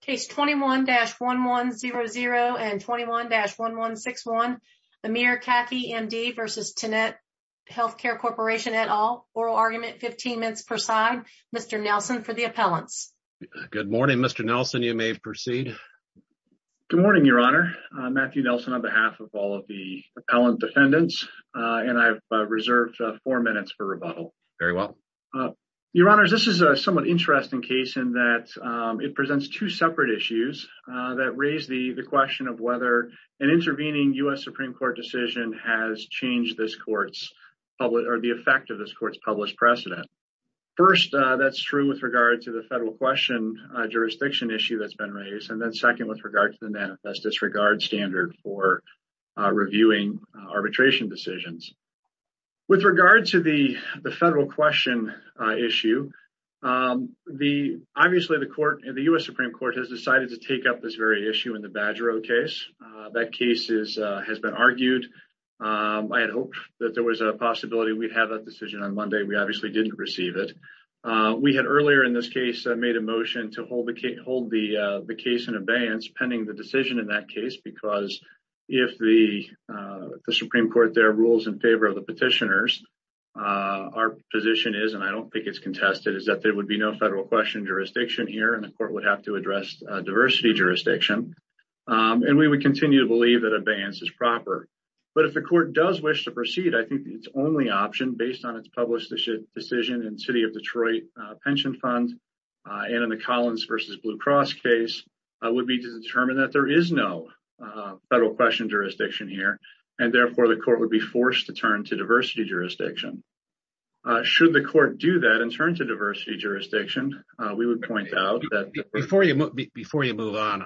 Case 21-1100 and 21-1161 Amir Kaki MD v. Tenet Healthcare Corporation et al. Oral argument 15 minutes per side. Mr. Nelson for the appellants. Good morning Mr. Nelson. You may proceed. Good morning your honor. Matthew Nelson on behalf of all of the appellant defendants and I've reserved four minutes for rebuttal. Very well. Your honors this is a somewhat interesting case in that it presents two separate issues that raise the question of whether an intervening U.S. Supreme Court decision has changed this court's public or the effect of this court's published precedent. First that's true with regard to the federal question jurisdiction issue that's been raised and then second with regard to the manifest disregard standard for reviewing arbitration decisions. With regard to the federal question issue, obviously the U.S. Supreme Court has decided to take up this very issue in the Badger Road case. That case has been argued. I had hoped that there was a possibility we'd have that decision on Monday. We obviously didn't receive it. We had earlier in this case made a motion to hold the case in abeyance pending the decision in that case because if the Supreme Court there rules in favor of the petitioners our position is and I don't think it's contested is that there would be no federal question jurisdiction here and the court would have to address diversity jurisdiction and we would continue to believe that abeyance is proper. But if the court does wish to proceed I think its only option based on its published decision in city of Detroit pension fund and in the Collins versus Blue Cross case would be to determine that there is no federal question jurisdiction here and therefore the court would be forced to turn to diversity jurisdiction. Should the court do that and turn to diversity jurisdiction we would point out that... Before you move on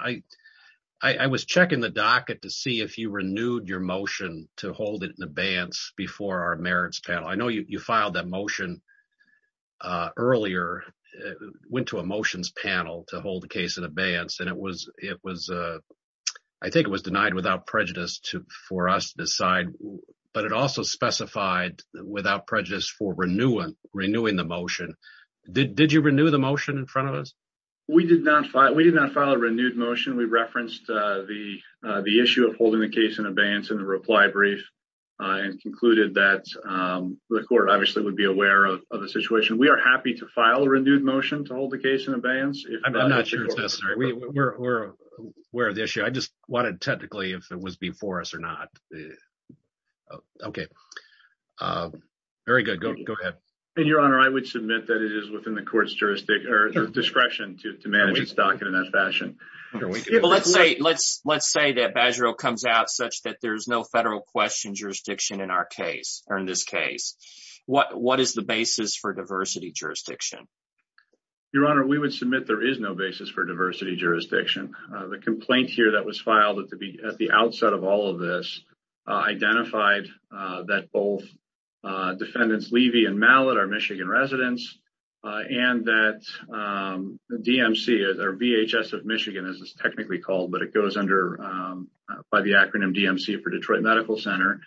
I was checking the docket to see if you renewed your motion to hold it in abeyance before our motion earlier went to a motions panel to hold the case in abeyance and I think it was denied without prejudice for us to decide but it also specified without prejudice for renewing the motion. Did you renew the motion in front of us? We did not file a renewed motion. We referenced the issue of holding the case in abeyance in the reply brief and concluded that the court would be aware of the situation. We are happy to file a renewed motion to hold the case in abeyance. I'm not sure it's necessary. We're aware of the issue. I just wanted technically if it was before us or not. Okay. Very good. Go ahead. Your honor I would submit that it is within the court's discretion to manage its docket in that fashion. Let's say that Badgerill comes out such that there's no federal question jurisdiction in our case or in this case. What is the basis for diversity jurisdiction? Your honor we would submit there is no basis for diversity jurisdiction. The complaint here that was filed at the outset of all of this identified that both defendants Levy and Mallett are Michigan residents and that the DMC or VHS of Michigan as it's under by the acronym DMC for Detroit Medical Center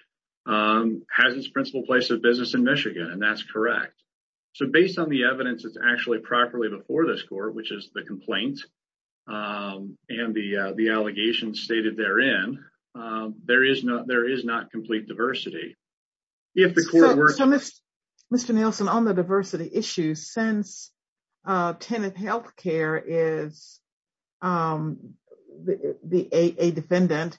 has its principal place of business in Michigan and that's correct. So based on the evidence that's actually properly before this court which is the complaint and the allegations stated therein there is not complete diversity. If the court were. So Mr. Nielsen on the diversity issue since Tenet Healthcare is the a defendant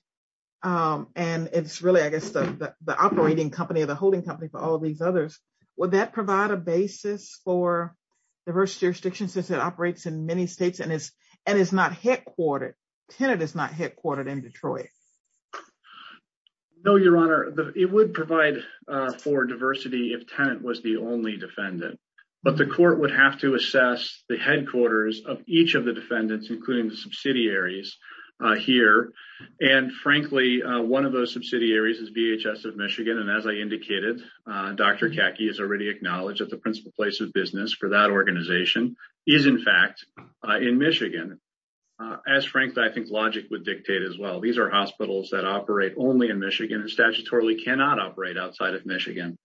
and it's really I guess the operating company or the holding company for all these others. Would that provide a basis for diversity jurisdiction since it operates in many states and it's and it's not headquartered. Tenet is not headquartered in Detroit. No your honor it would provide for diversity if Tenet was the only defendant but the court would have to assess the headquarters of each of the defendants including the subsidiaries here and frankly one of those subsidiaries is VHS of Michigan and as I indicated Dr. Kaki has already acknowledged that the principal place of business for that organization is in fact in Michigan. As Frank I think logic would dictate as well. These are hospitals that operate only in Michigan and statutorily cannot operate outside of Michigan.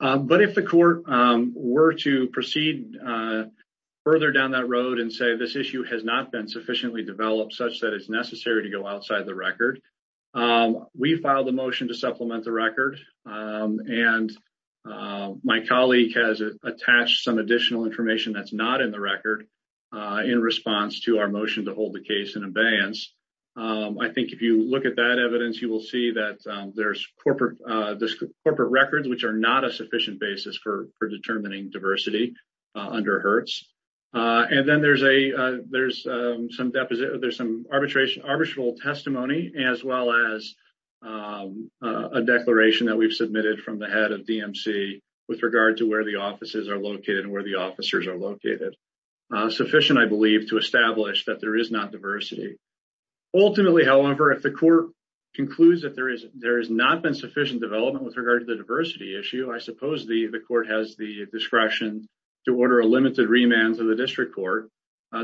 But if the court were to proceed further down that road and say this issue has not been sufficiently developed such that it's necessary to go outside the record. We filed a motion to supplement the record and my colleague has attached some additional information that's not in the record in response to our motion to hold the case in abeyance. I think if you look at that evidence you will see that there's corporate records which are not a sufficient basis for for determining diversity under Hertz and then there's a there's some deposit there's some arbitration arbitral testimony as well as a declaration that we've submitted from the head of DMC with regard to where the offices are located and where officers are located. Sufficient I believe to establish that there is not diversity. Ultimately however if the court concludes that there is there has not been sufficient development with regard to the diversity issue I suppose the the court has the discretion to order a limited remand to the district court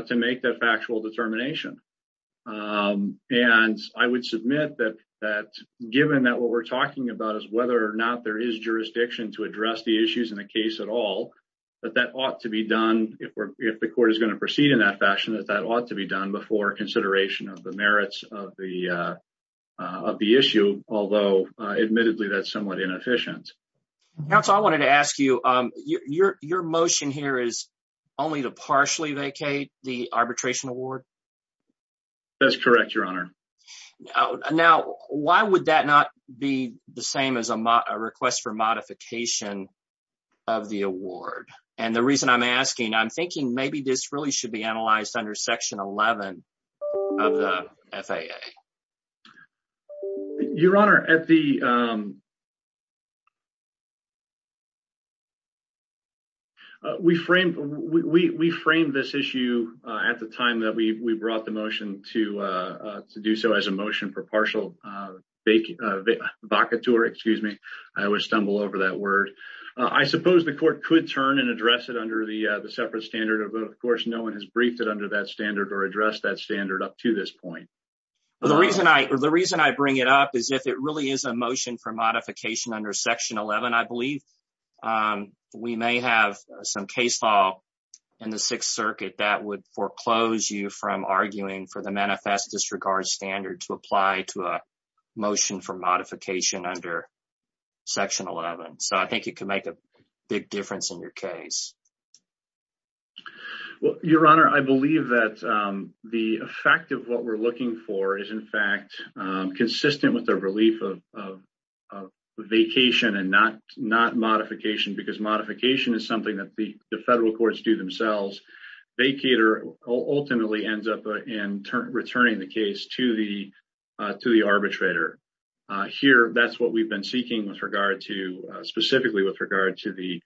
to make that factual determination. And I would submit that that given that what we're talking about is whether or not there is jurisdiction to address the issues in the case at all that that ought to be done if we're if the court is going to proceed in that fashion that that ought to be done before consideration of the merits of the of the issue although admittedly that's somewhat inefficient. Counsel I wanted to ask you your your motion here is only to partially vacate the arbitration award? That's correct your honor. Now why would that not be the same as a request for modification of the award? And the reason I'm asking I'm thinking maybe this really should be analyzed under section 11 of the FAA. Your honor at the we framed we we framed this issue at the time that we we brought the motion to to do so as a motion for partial vacateur excuse me I always stumble over that word. I suppose the court could turn and address it under the the separate standard of of course no one has briefed it under that standard or addressed that standard up to this point. The reason I the reason I bring it up is if it really is a motion for modification under section 11 I believe we may have some case law in the sixth circuit that would foreclose you from manifest disregard standard to apply to a motion for modification under section 11. So I think it can make a big difference in your case. Well your honor I believe that the effect of what we're looking for is in fact consistent with the relief of of vacation and not not modification because modification is something that the the federal courts do themselves. Vacator ultimately ends up in returning the case to the to the arbitrator. Here that's what we've been seeking with regard to specifically with regard to the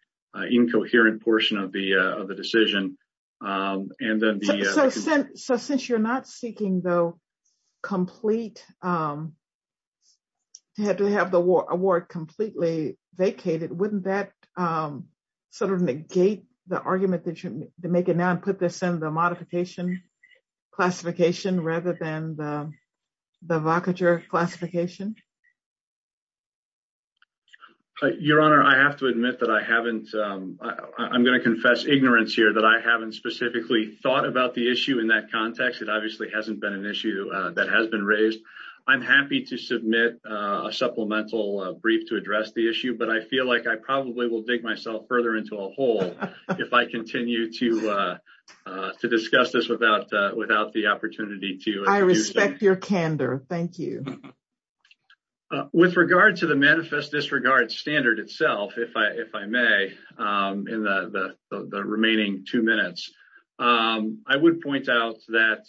incoherent portion of the of the decision and then the so since you're not seeking though complete to have to have the award completely vacated wouldn't that sort of negate the argument that you make it now and put this in the modification classification rather than the vacature classification. Your honor I have to admit that I haven't I'm going to confess ignorance here that I haven't specifically thought about the issue in that context it obviously hasn't been an issue that has been raised. I'm happy to submit a supplemental brief to address the issue but I feel like I probably will dig myself further into a hole if I continue to to discuss this without the opportunity to. I respect your candor thank you. With regard to the manifest disregard standard itself if I if I may in the the remaining two minutes I would point out that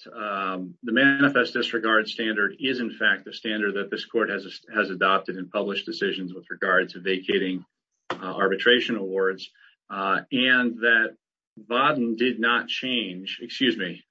the manifest disregard standard is in fact the standard that this court has has adopted in published decisions with regard to vacating arbitration awards and that bodden did not change excuse me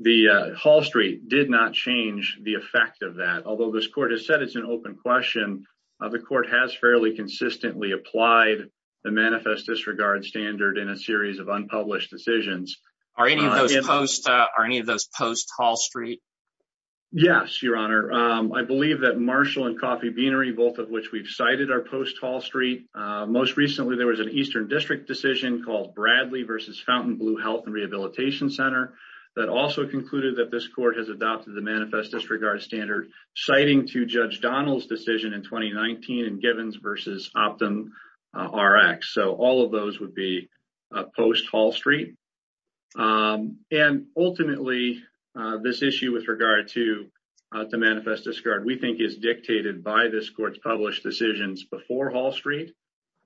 the hall street did not change the effect of that although this court has said it's an open question the court has fairly consistently applied the manifest disregard standard in a series of unpublished decisions. Are any of those posts are any of those posts hall street? Yes your honor I believe that Marshall and Coffee Beanery both of which we've cited are post hall street most recently there was an eastern district decision called Bradley versus Fountain Blue Health and Rehabilitation Center that also concluded that this court has adopted the manifest disregard standard citing to Judge Donald's decision in 2019 and Givens versus Optum Rx so all of those would be post hall street and ultimately this issue with regard to the manifest discard we think is dictated by this court's published decisions before hall street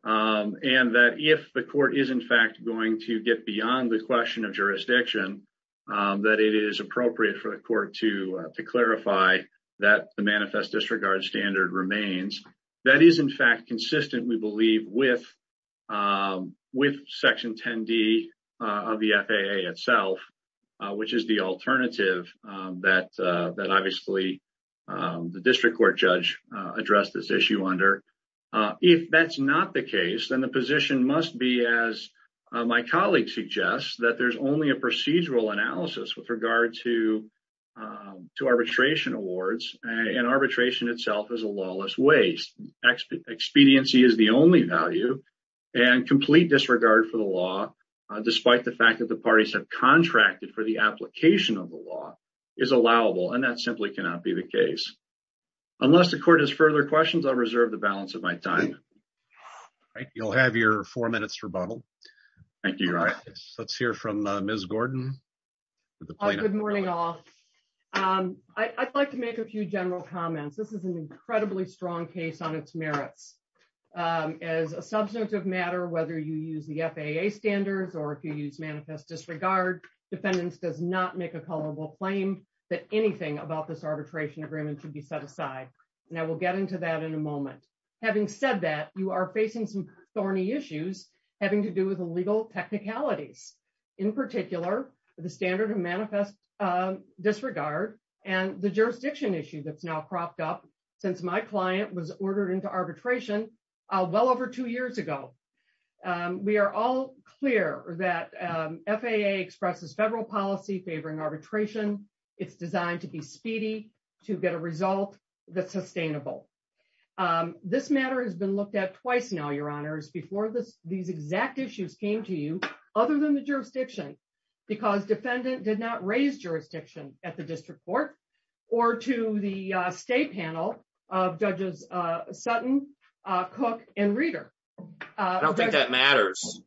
and that if the court is in fact going to get beyond the question of jurisdiction that it is appropriate for the court to to clarify that the manifest disregard standard remains that is in fact consistent we believe with with section 10d of the FAA itself which is the the district court judge addressed this issue under if that's not the case then the position must be as my colleague suggests that there's only a procedural analysis with regard to to arbitration awards and arbitration itself is a lawless waste expediency is the only value and complete disregard for the law despite the fact that the parties have contracted for the law is allowable and that simply cannot be the case unless the court has further questions i'll reserve the balance of my time all right you'll have your four minutes rebuttal thank you all let's hear from uh ms gordon good morning all um i'd like to make a few general comments this is an incredibly strong case on its merits um as a substantive matter whether you use the FAA standards or if you use manifest disregard defendants does not make a culpable claim that anything about this arbitration agreement should be set aside and i will get into that in a moment having said that you are facing some thorny issues having to do with the legal technicalities in particular the standard of manifest um disregard and the jurisdiction issue that's now cropped up since my client was ordered into arbitration uh well over two years ago um we are all clear that um FAA expresses federal policy favoring arbitration it's designed to be speedy to get a result that's sustainable um this matter has been looked at twice now your honors before this these exact issues came to you other than the jurisdiction because defendant did not raise jurisdiction at the district court or to the state panel of judges uh sutton uh cook and reader uh i don't think that matters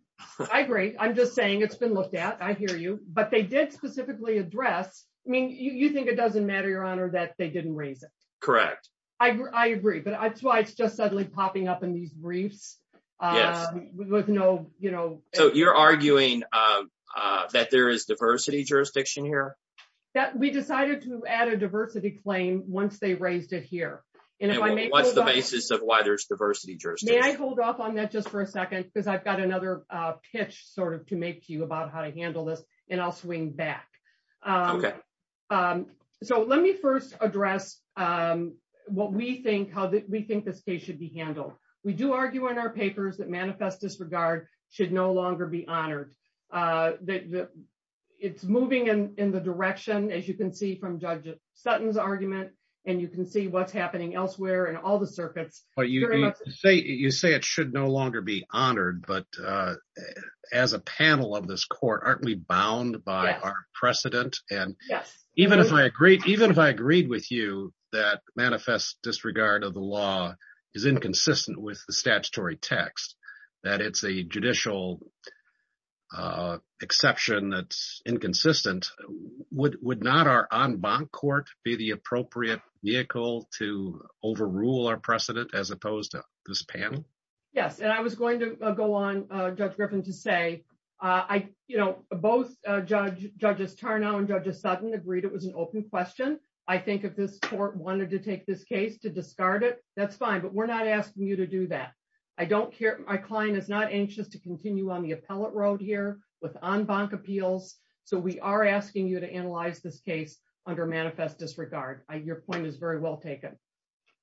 i agree i'm just saying it's been looked at i hear you but they did specifically address i mean you you think it doesn't matter your honor that they didn't raise it correct i i agree but that's why it's just suddenly popping up in these briefs um with no you know so you're arguing uh uh that there is diversity jurisdiction here that we decided to add a diversity claim once they raised it here and if i may what's the basis of why there's diversity jurors may i hold off on that just for a second because i've got another uh pitch sort of to make you about how to handle this and i'll swing back um okay um so let me first address um what we think how that we think this case should be handled we do argue in our papers that manifest disregard should no longer be honored uh that it's moving in in the direction as you can see from judge sutton's argument and you can see what's happening elsewhere and all the circuits but you say you say it should no longer be honored but uh as a panel of this court aren't we bound by our precedent and yes even if i agreed even if i agreed with you that manifest disregard of the law is inconsistent with the statutory text that it's a judicial uh exception that's inconsistent would would not our en banc court be the appropriate vehicle to overrule our precedent as opposed to this panel yes and i was going to go on uh judge griffin to say uh i you know both uh judge judges turnout and judges sudden agreed it was an open question i think if this court wanted to take this case to discard it that's fine but we're not asking you to do that i don't care my client is not anxious to continue on the appellate road here with en banc appeals so we are asking you to analyze this case under manifest disregard your point is very well taken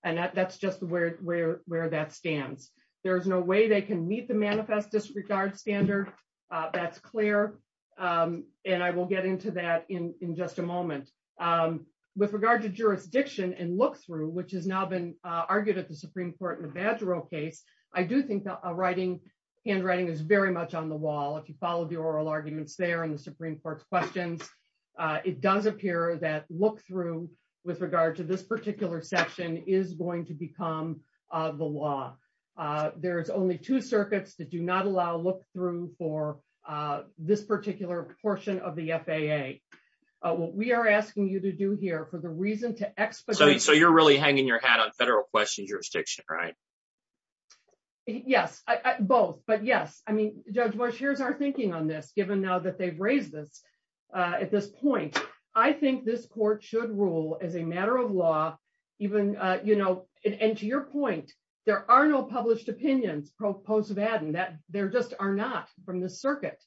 and that's just where where where that stands there is no way they can meet the manifest disregard standard uh that's clear um and i will get into that in in just a moment um with regard to jurisdiction and look through which has now been argued at the badge role case i do think that writing handwriting is very much on the wall if you follow the oral arguments there in the supreme court's questions uh it does appear that look through with regard to this particular section is going to become uh the law uh there is only two circuits that do not allow look through for uh this particular portion of the faa what we are asking you to do here for the reason to expedite so you're really hanging your hat on federal question jurisdiction right yes i both but yes i mean judge bush here's our thinking on this given now that they've raised this uh at this point i think this court should rule as a matter of law even uh you know and to your point there are no published opinions proposed of adding that there just are not from this circuit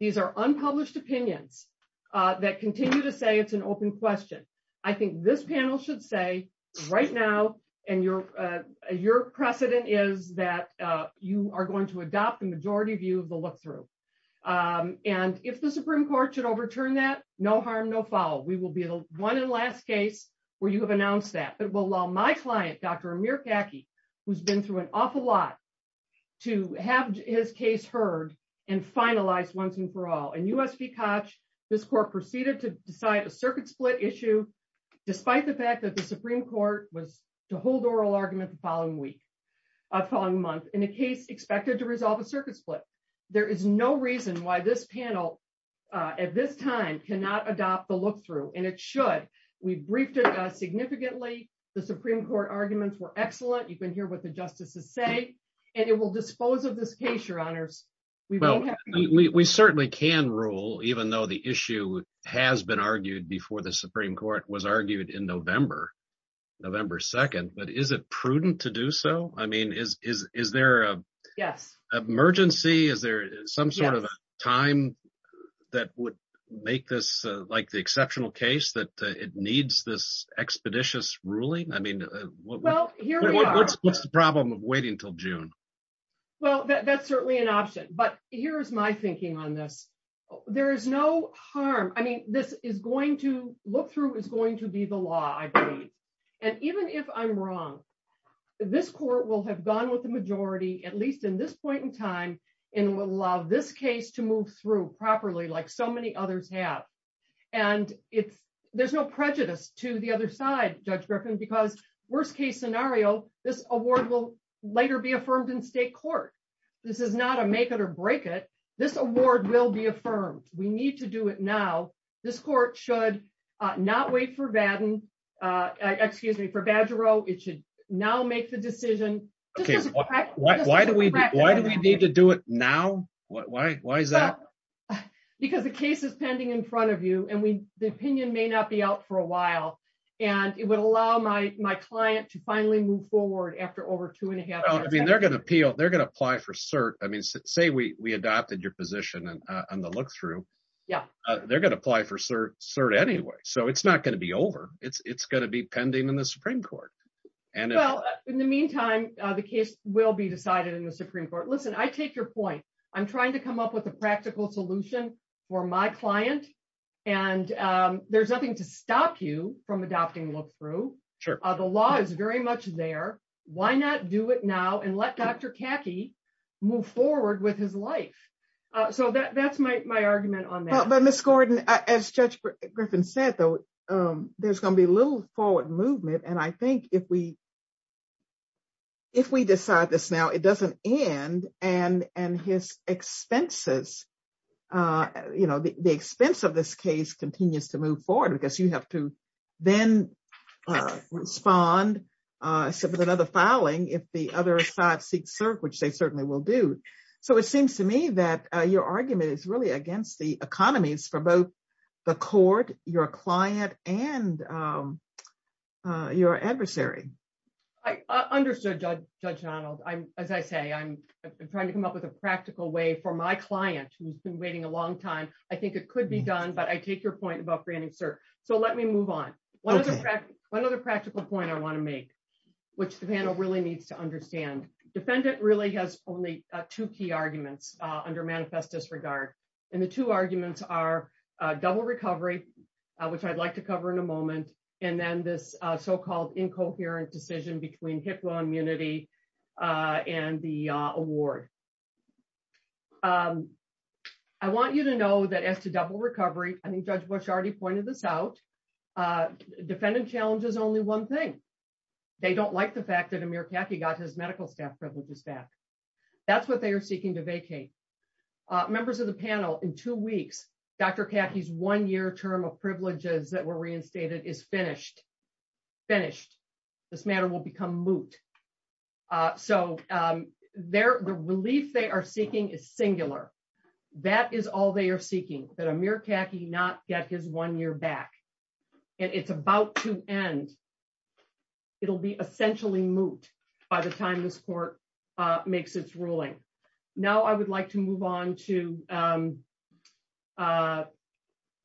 these are unpublished opinions uh that continue to say it's open question i think this panel should say right now and your uh your precedent is that uh you are going to adopt the majority view of the look through um and if the supreme court should overturn that no harm no foul we will be the one and last case where you have announced that but will allow my client dr amir khaki who's been through an awful lot to have his case heard and finalized once and for all and usb cotch this court proceeded to decide a circuit split issue despite the fact that the supreme court was to hold oral argument the following week uh following month in a case expected to resolve a circuit split there is no reason why this panel uh at this time cannot adopt the look through and it should we briefed it uh significantly the supreme court arguments were excellent you can hear what the justices say and it will dispose of this case your honors well we certainly can rule even though the issue has been argued before the supreme court was argued in november november 2nd but is it prudent to do so i mean is is is there a yes emergency is there some sort of time that would make this like the exceptional case that it needs this expeditious ruling i mean well here what's the problem of waiting till june well that's certainly an option but here's my thinking on this there is no harm i mean this is going to look through is going to be the law i believe and even if i'm wrong this court will have gone with the majority at least in this point in time and will allow this case to move through properly like so many others have and it's there's no later be affirmed in state court this is not a make it or break it this award will be affirmed we need to do it now this court should uh not wait for vaden uh excuse me for badgero it should now make the decision okay why do we why do we need to do it now why why is that because the case is pending in front of you and we the opinion may not be out for a while and it would allow my my client to finally move forward after over two and a half i mean they're going to appeal they're going to apply for cert i mean say we we adopted your position and uh on the look through yeah they're going to apply for cert cert anyway so it's not going to be over it's it's going to be pending in the supreme court and well in the meantime uh the case will be decided in the supreme court listen i take your point i'm trying to come up with a practical solution for my client and um there's nothing to stop you from adopting look through sure the law is very much there why not do it now and let dr khaki move forward with his life uh so that that's my my argument on that but miss gordon as judge griffin said though um there's going to be a little forward movement and i think if we if we decide this now it doesn't end and and his expenses uh you know the expense of this case continues to move forward because you have to then uh respond uh except with another filing if the other side seeks cert which they certainly will do so it seems to me that your argument is really against the economies for both the court your client and um uh your adversary i understood judge judge donald i'm as i say i'm trying to come up with a practical way for my client who's been waiting a long time i think it could be done but i take your point about granting sir so let me move on one other practical point i want to make which the panel really needs to understand defendant really has only two key arguments uh under manifest disregard and the two arguments are uh double recovery which i'd like to cover in a moment and then this uh so um i want you to know that as to double recovery i think judge bush already pointed this out uh defendant challenge is only one thing they don't like the fact that amir khaki got his medical staff privileges back that's what they are seeking to vacate uh members of the panel in two weeks dr khaki's one-year term of privileges that were reinstated is finished finished this matter will is singular that is all they are seeking that amir khaki not get his one year back and it's about to end it'll be essentially moot by the time this court uh makes its ruling now i would like to move on to um uh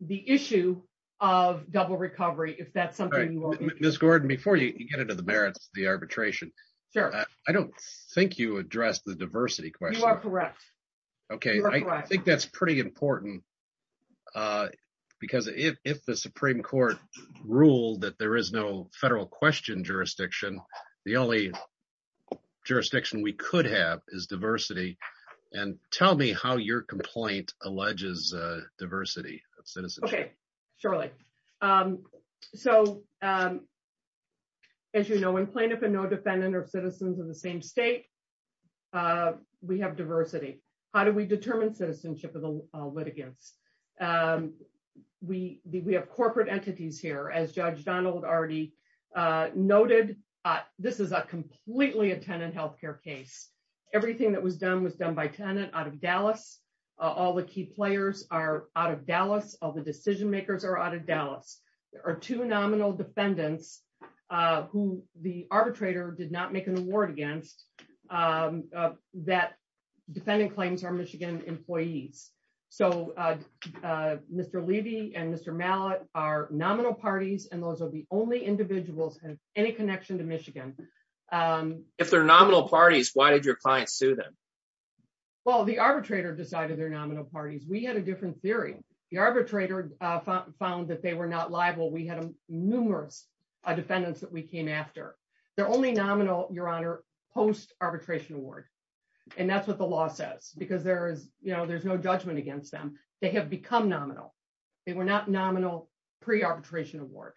the issue of double recovery if that's something you want miss gordon before you get into the merits of the arbitration sure i don't think you address the diversity question you are correct okay i think that's pretty important uh because if if the supreme court ruled that there is no federal question jurisdiction the only jurisdiction we could have is diversity and tell me how your complaint alleges uh diversity of citizenship okay surely um so um as you know when plaintiff and no defendant are citizens of the same state we have diversity how do we determine citizenship of the litigants um we we have corporate entities here as judge donald already uh noted uh this is a completely a tenant health care case everything that was done was done by tenant out of dallas all the key players are out of dallas all the decision makers are out of dallas there are two nominal defendants uh who the arbitrator did not make an award against um that defendant claims are michigan employees so uh uh mr levy and mr mallet are nominal parties and those are the only individuals have any connection to michigan um if they're nominal parties why did your client sue them well the arbitrator decided they're nominal parties we had a different theory the arbitrator uh found that they were not liable we had numerous defendants that we came after they're only nominal your honor post arbitration award and that's what the law says because there is you know there's no judgment against them they have become nominal they were not nominal pre-arbitration award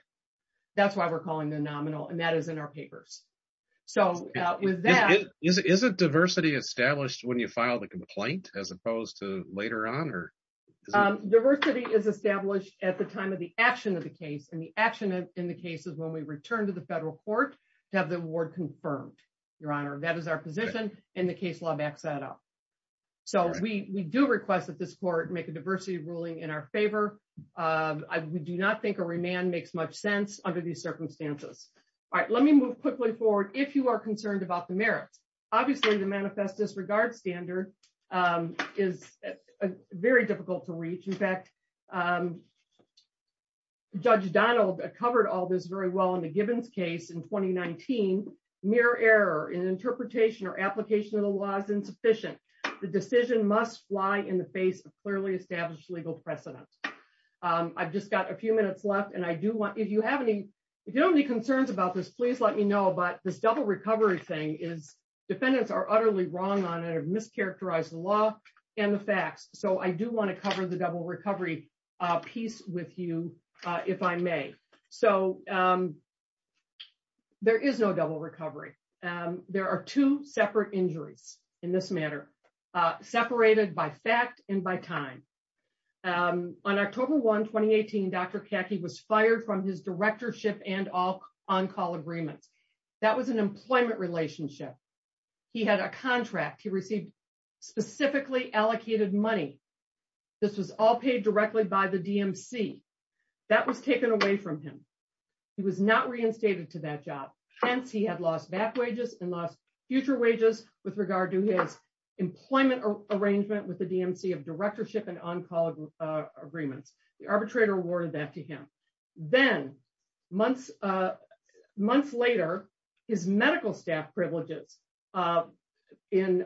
that's why we're calling the nominal and that is in our papers so with that is it diversity established when you file the complaint as opposed to later on or diversity is established at the time of the action of the case and the action in the case is when we return to the federal court to have the award confirmed your honor that is our position and the case law backs that up so we we do request that this court make a diversity ruling in our favor uh we do not think a remand makes much sense under these circumstances all right let me move quickly forward if you are concerned about the merits obviously the manifest disregard standard um is very difficult to reach in fact um judge donald covered all this very well in the gibbons case in 2019 mere error in interpretation or application of the law is insufficient the decision must fly in the face of clearly established legal precedent um i've just got a few minutes left and i do want if you have any if you have any concerns about this please let me know but this double recovery thing is defendants are utterly wrong on it have mischaracterized the law and the facts so i do want to cover the double recovery uh piece with you uh if i may so um there is no double recovery um there are two separate injuries in this matter uh separated by fact and by time um on october 1 2018 dr khaki was fired from his directorship and all on-call agreements that was an employment relationship he had a contract he received specifically allocated money this was all paid directly by the dmc that was taken away from him he was not reinstated to that job hence he had lost back wages and lost future wages with regard to his employment arrangement with the dmc of directorship and on-call agreements the arbitrator awarded that to him then months uh months later his medical staff privileges uh in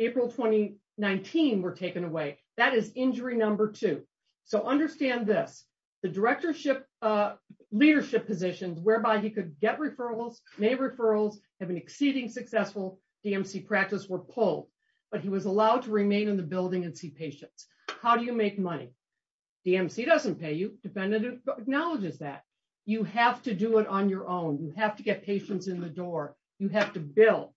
april 2019 were taken away that is injury number two so understand this the directorship uh leadership positions whereby he could get referrals may referrals have been exceeding successful dmc practice were pulled but he was allowed to remain in the building and see patients how do you make money dmc doesn't pay you defendant acknowledges that you have to do it on your own you have to get patients in the door you have to build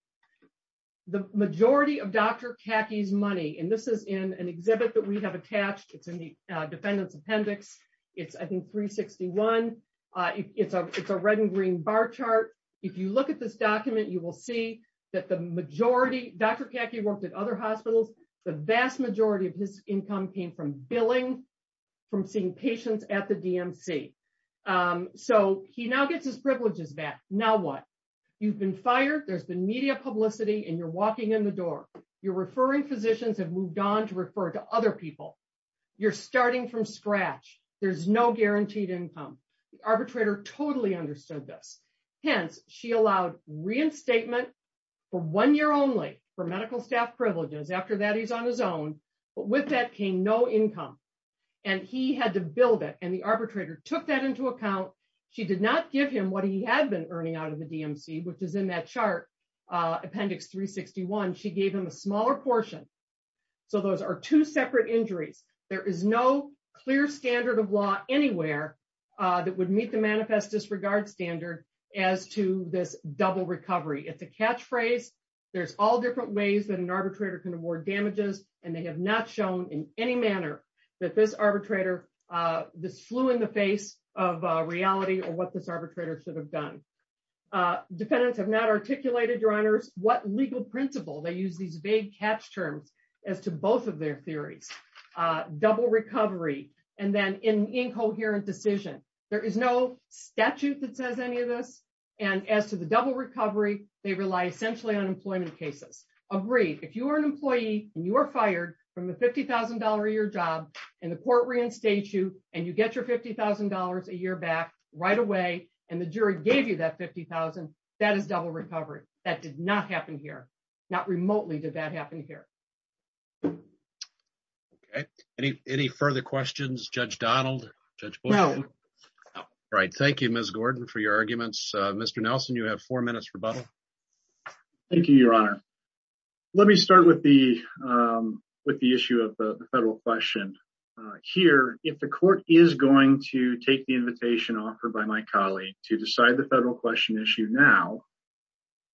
the majority of dr khaki's money and this is in an exhibit that we have attached it's in the defendant's appendix it's i think 361 uh it's a it's a red and green bar chart if you look at this document you will see that the majority dr khaki worked at other hospitals the vast majority of his income came from billing from seeing patients at the dmc um so he now gets his privileges back now what you've been fired there's been media publicity and you're walking in the door you're referring physicians have moved on to refer to other people you're starting from scratch there's no guaranteed income the arbitrator totally understood this hence she allowed reinstatement for one year only for medical staff privileges after that he's on his own with that came no income and he had to build it and the arbitrator took that into account she did not give him what he had been earning out of the dmc which is in that chart uh appendix 361 she gave him a smaller portion so those are two separate injuries there is no clear standard of law anywhere uh that would meet the manifest disregard standard as to this double recovery it's a catchphrase there's all different ways that an arbitrator can award damages and they have not shown in any manner that this arbitrator uh this flew in the face of reality or what this arbitrator should have done uh defendants have not articulated your honors what legal principle they use these vague catch terms as to both of their theories uh double recovery and then in incoherent decision there is no statute that says any of this and as to the double recovery they rely essentially on employment cases agreed if you are an employee and you are fired from the $50,000 a year job and the court reinstates you and you get your $50,000 a year back right away and the jury gave you that 50,000 that is double recovery that did not happen here not remotely did that happen here okay any any further questions judge donald judge right thank you ms gordon for your arguments uh mr nelson you have four minutes rebuttal thank you your honor let me start with the um with the issue of the federal question here if the court is going to take the invitation offered by my colleague to decide the federal question issue now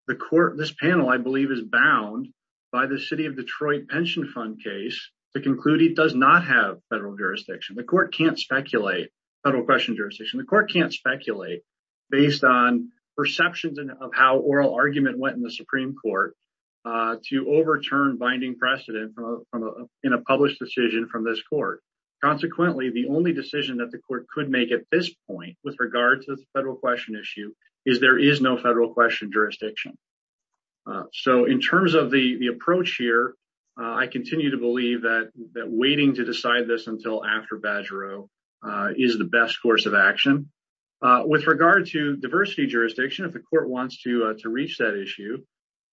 the court this panel i believe is bound by the city of detroit pension fund case to conclude it does not have federal jurisdiction the court can't speculate federal question the court can't speculate based on perceptions of how oral argument went in the supreme court to overturn binding precedent from in a published decision from this court consequently the only decision that the court could make at this point with regard to the federal question issue is there is no federal question jurisdiction so in terms of the the approach here i continue to uh with regard to diversity jurisdiction if the court wants to uh to reach that issue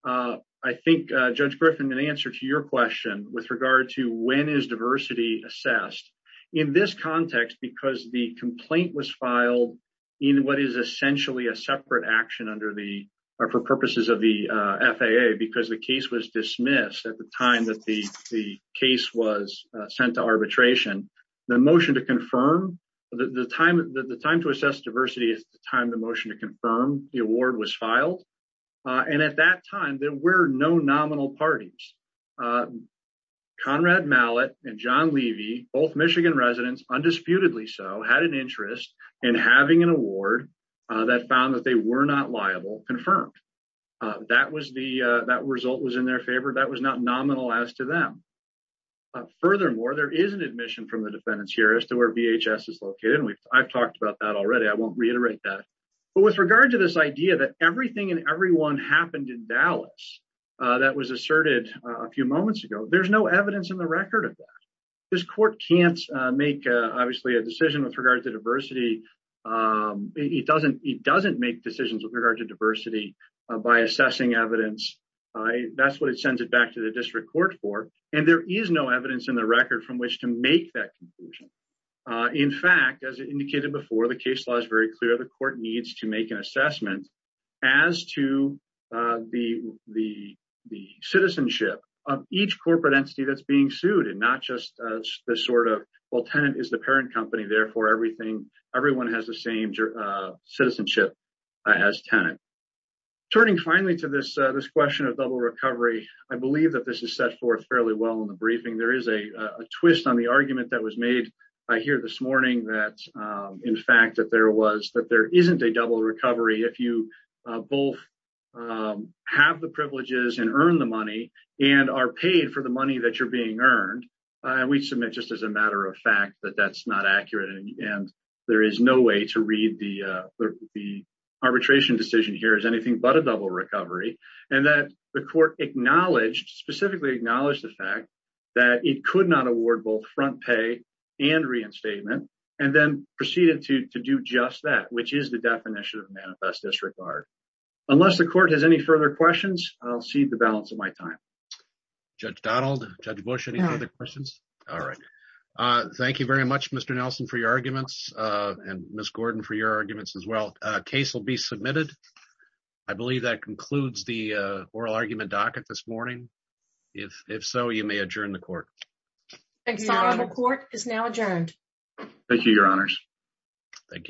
uh i think uh judge griffin an answer to your question with regard to when is diversity assessed in this context because the complaint was filed in what is essentially a separate action under the or for purposes of the uh faa because the case was dismissed at the time that the case was sent to arbitration the motion to confirm the time the time to assess diversity is the time the motion to confirm the award was filed and at that time there were no nominal parties uh conrad mallett and john levy both michigan residents undisputedly so had an interest in having an award uh that found that they were not liable confirmed uh that was the uh that uh furthermore there is an admission from the defendants here as to where vhs is located and we've i've talked about that already i won't reiterate that but with regard to this idea that everything and everyone happened in dallas uh that was asserted a few moments ago there's no evidence in the record of that this court can't make obviously a decision with regards to diversity um it doesn't it doesn't make decisions with regard to diversity by assessing evidence i that's what it sends it back to the district court for and there is no evidence in the record from which to make that conclusion uh in fact as indicated before the case law is very clear the court needs to make an assessment as to uh the the the citizenship of each corporate entity that's being sued and not just the sort of well tenant is the turning finally to this this question of double recovery i believe that this is set forth fairly well in the briefing there is a a twist on the argument that was made i hear this morning that in fact that there was that there isn't a double recovery if you both have the privileges and earn the money and are paid for the money that you're being earned and we submit just as a matter of fact that that's not accurate and there is no way to read the uh the arbitration decision here is a double recovery and that the court acknowledged specifically acknowledged the fact that it could not award both front pay and reinstatement and then proceeded to to do just that which is the definition of manifest disregard unless the court has any further questions i'll see the balance of my time judge donald judge bush any other questions all right uh thank you very much mr nelson for your arguments uh and miss gordon for your arguments as well uh case will be submitted i believe that concludes the uh oral argument docket this morning if if so you may adjourn the court the court is now adjourned thank you your honors thank you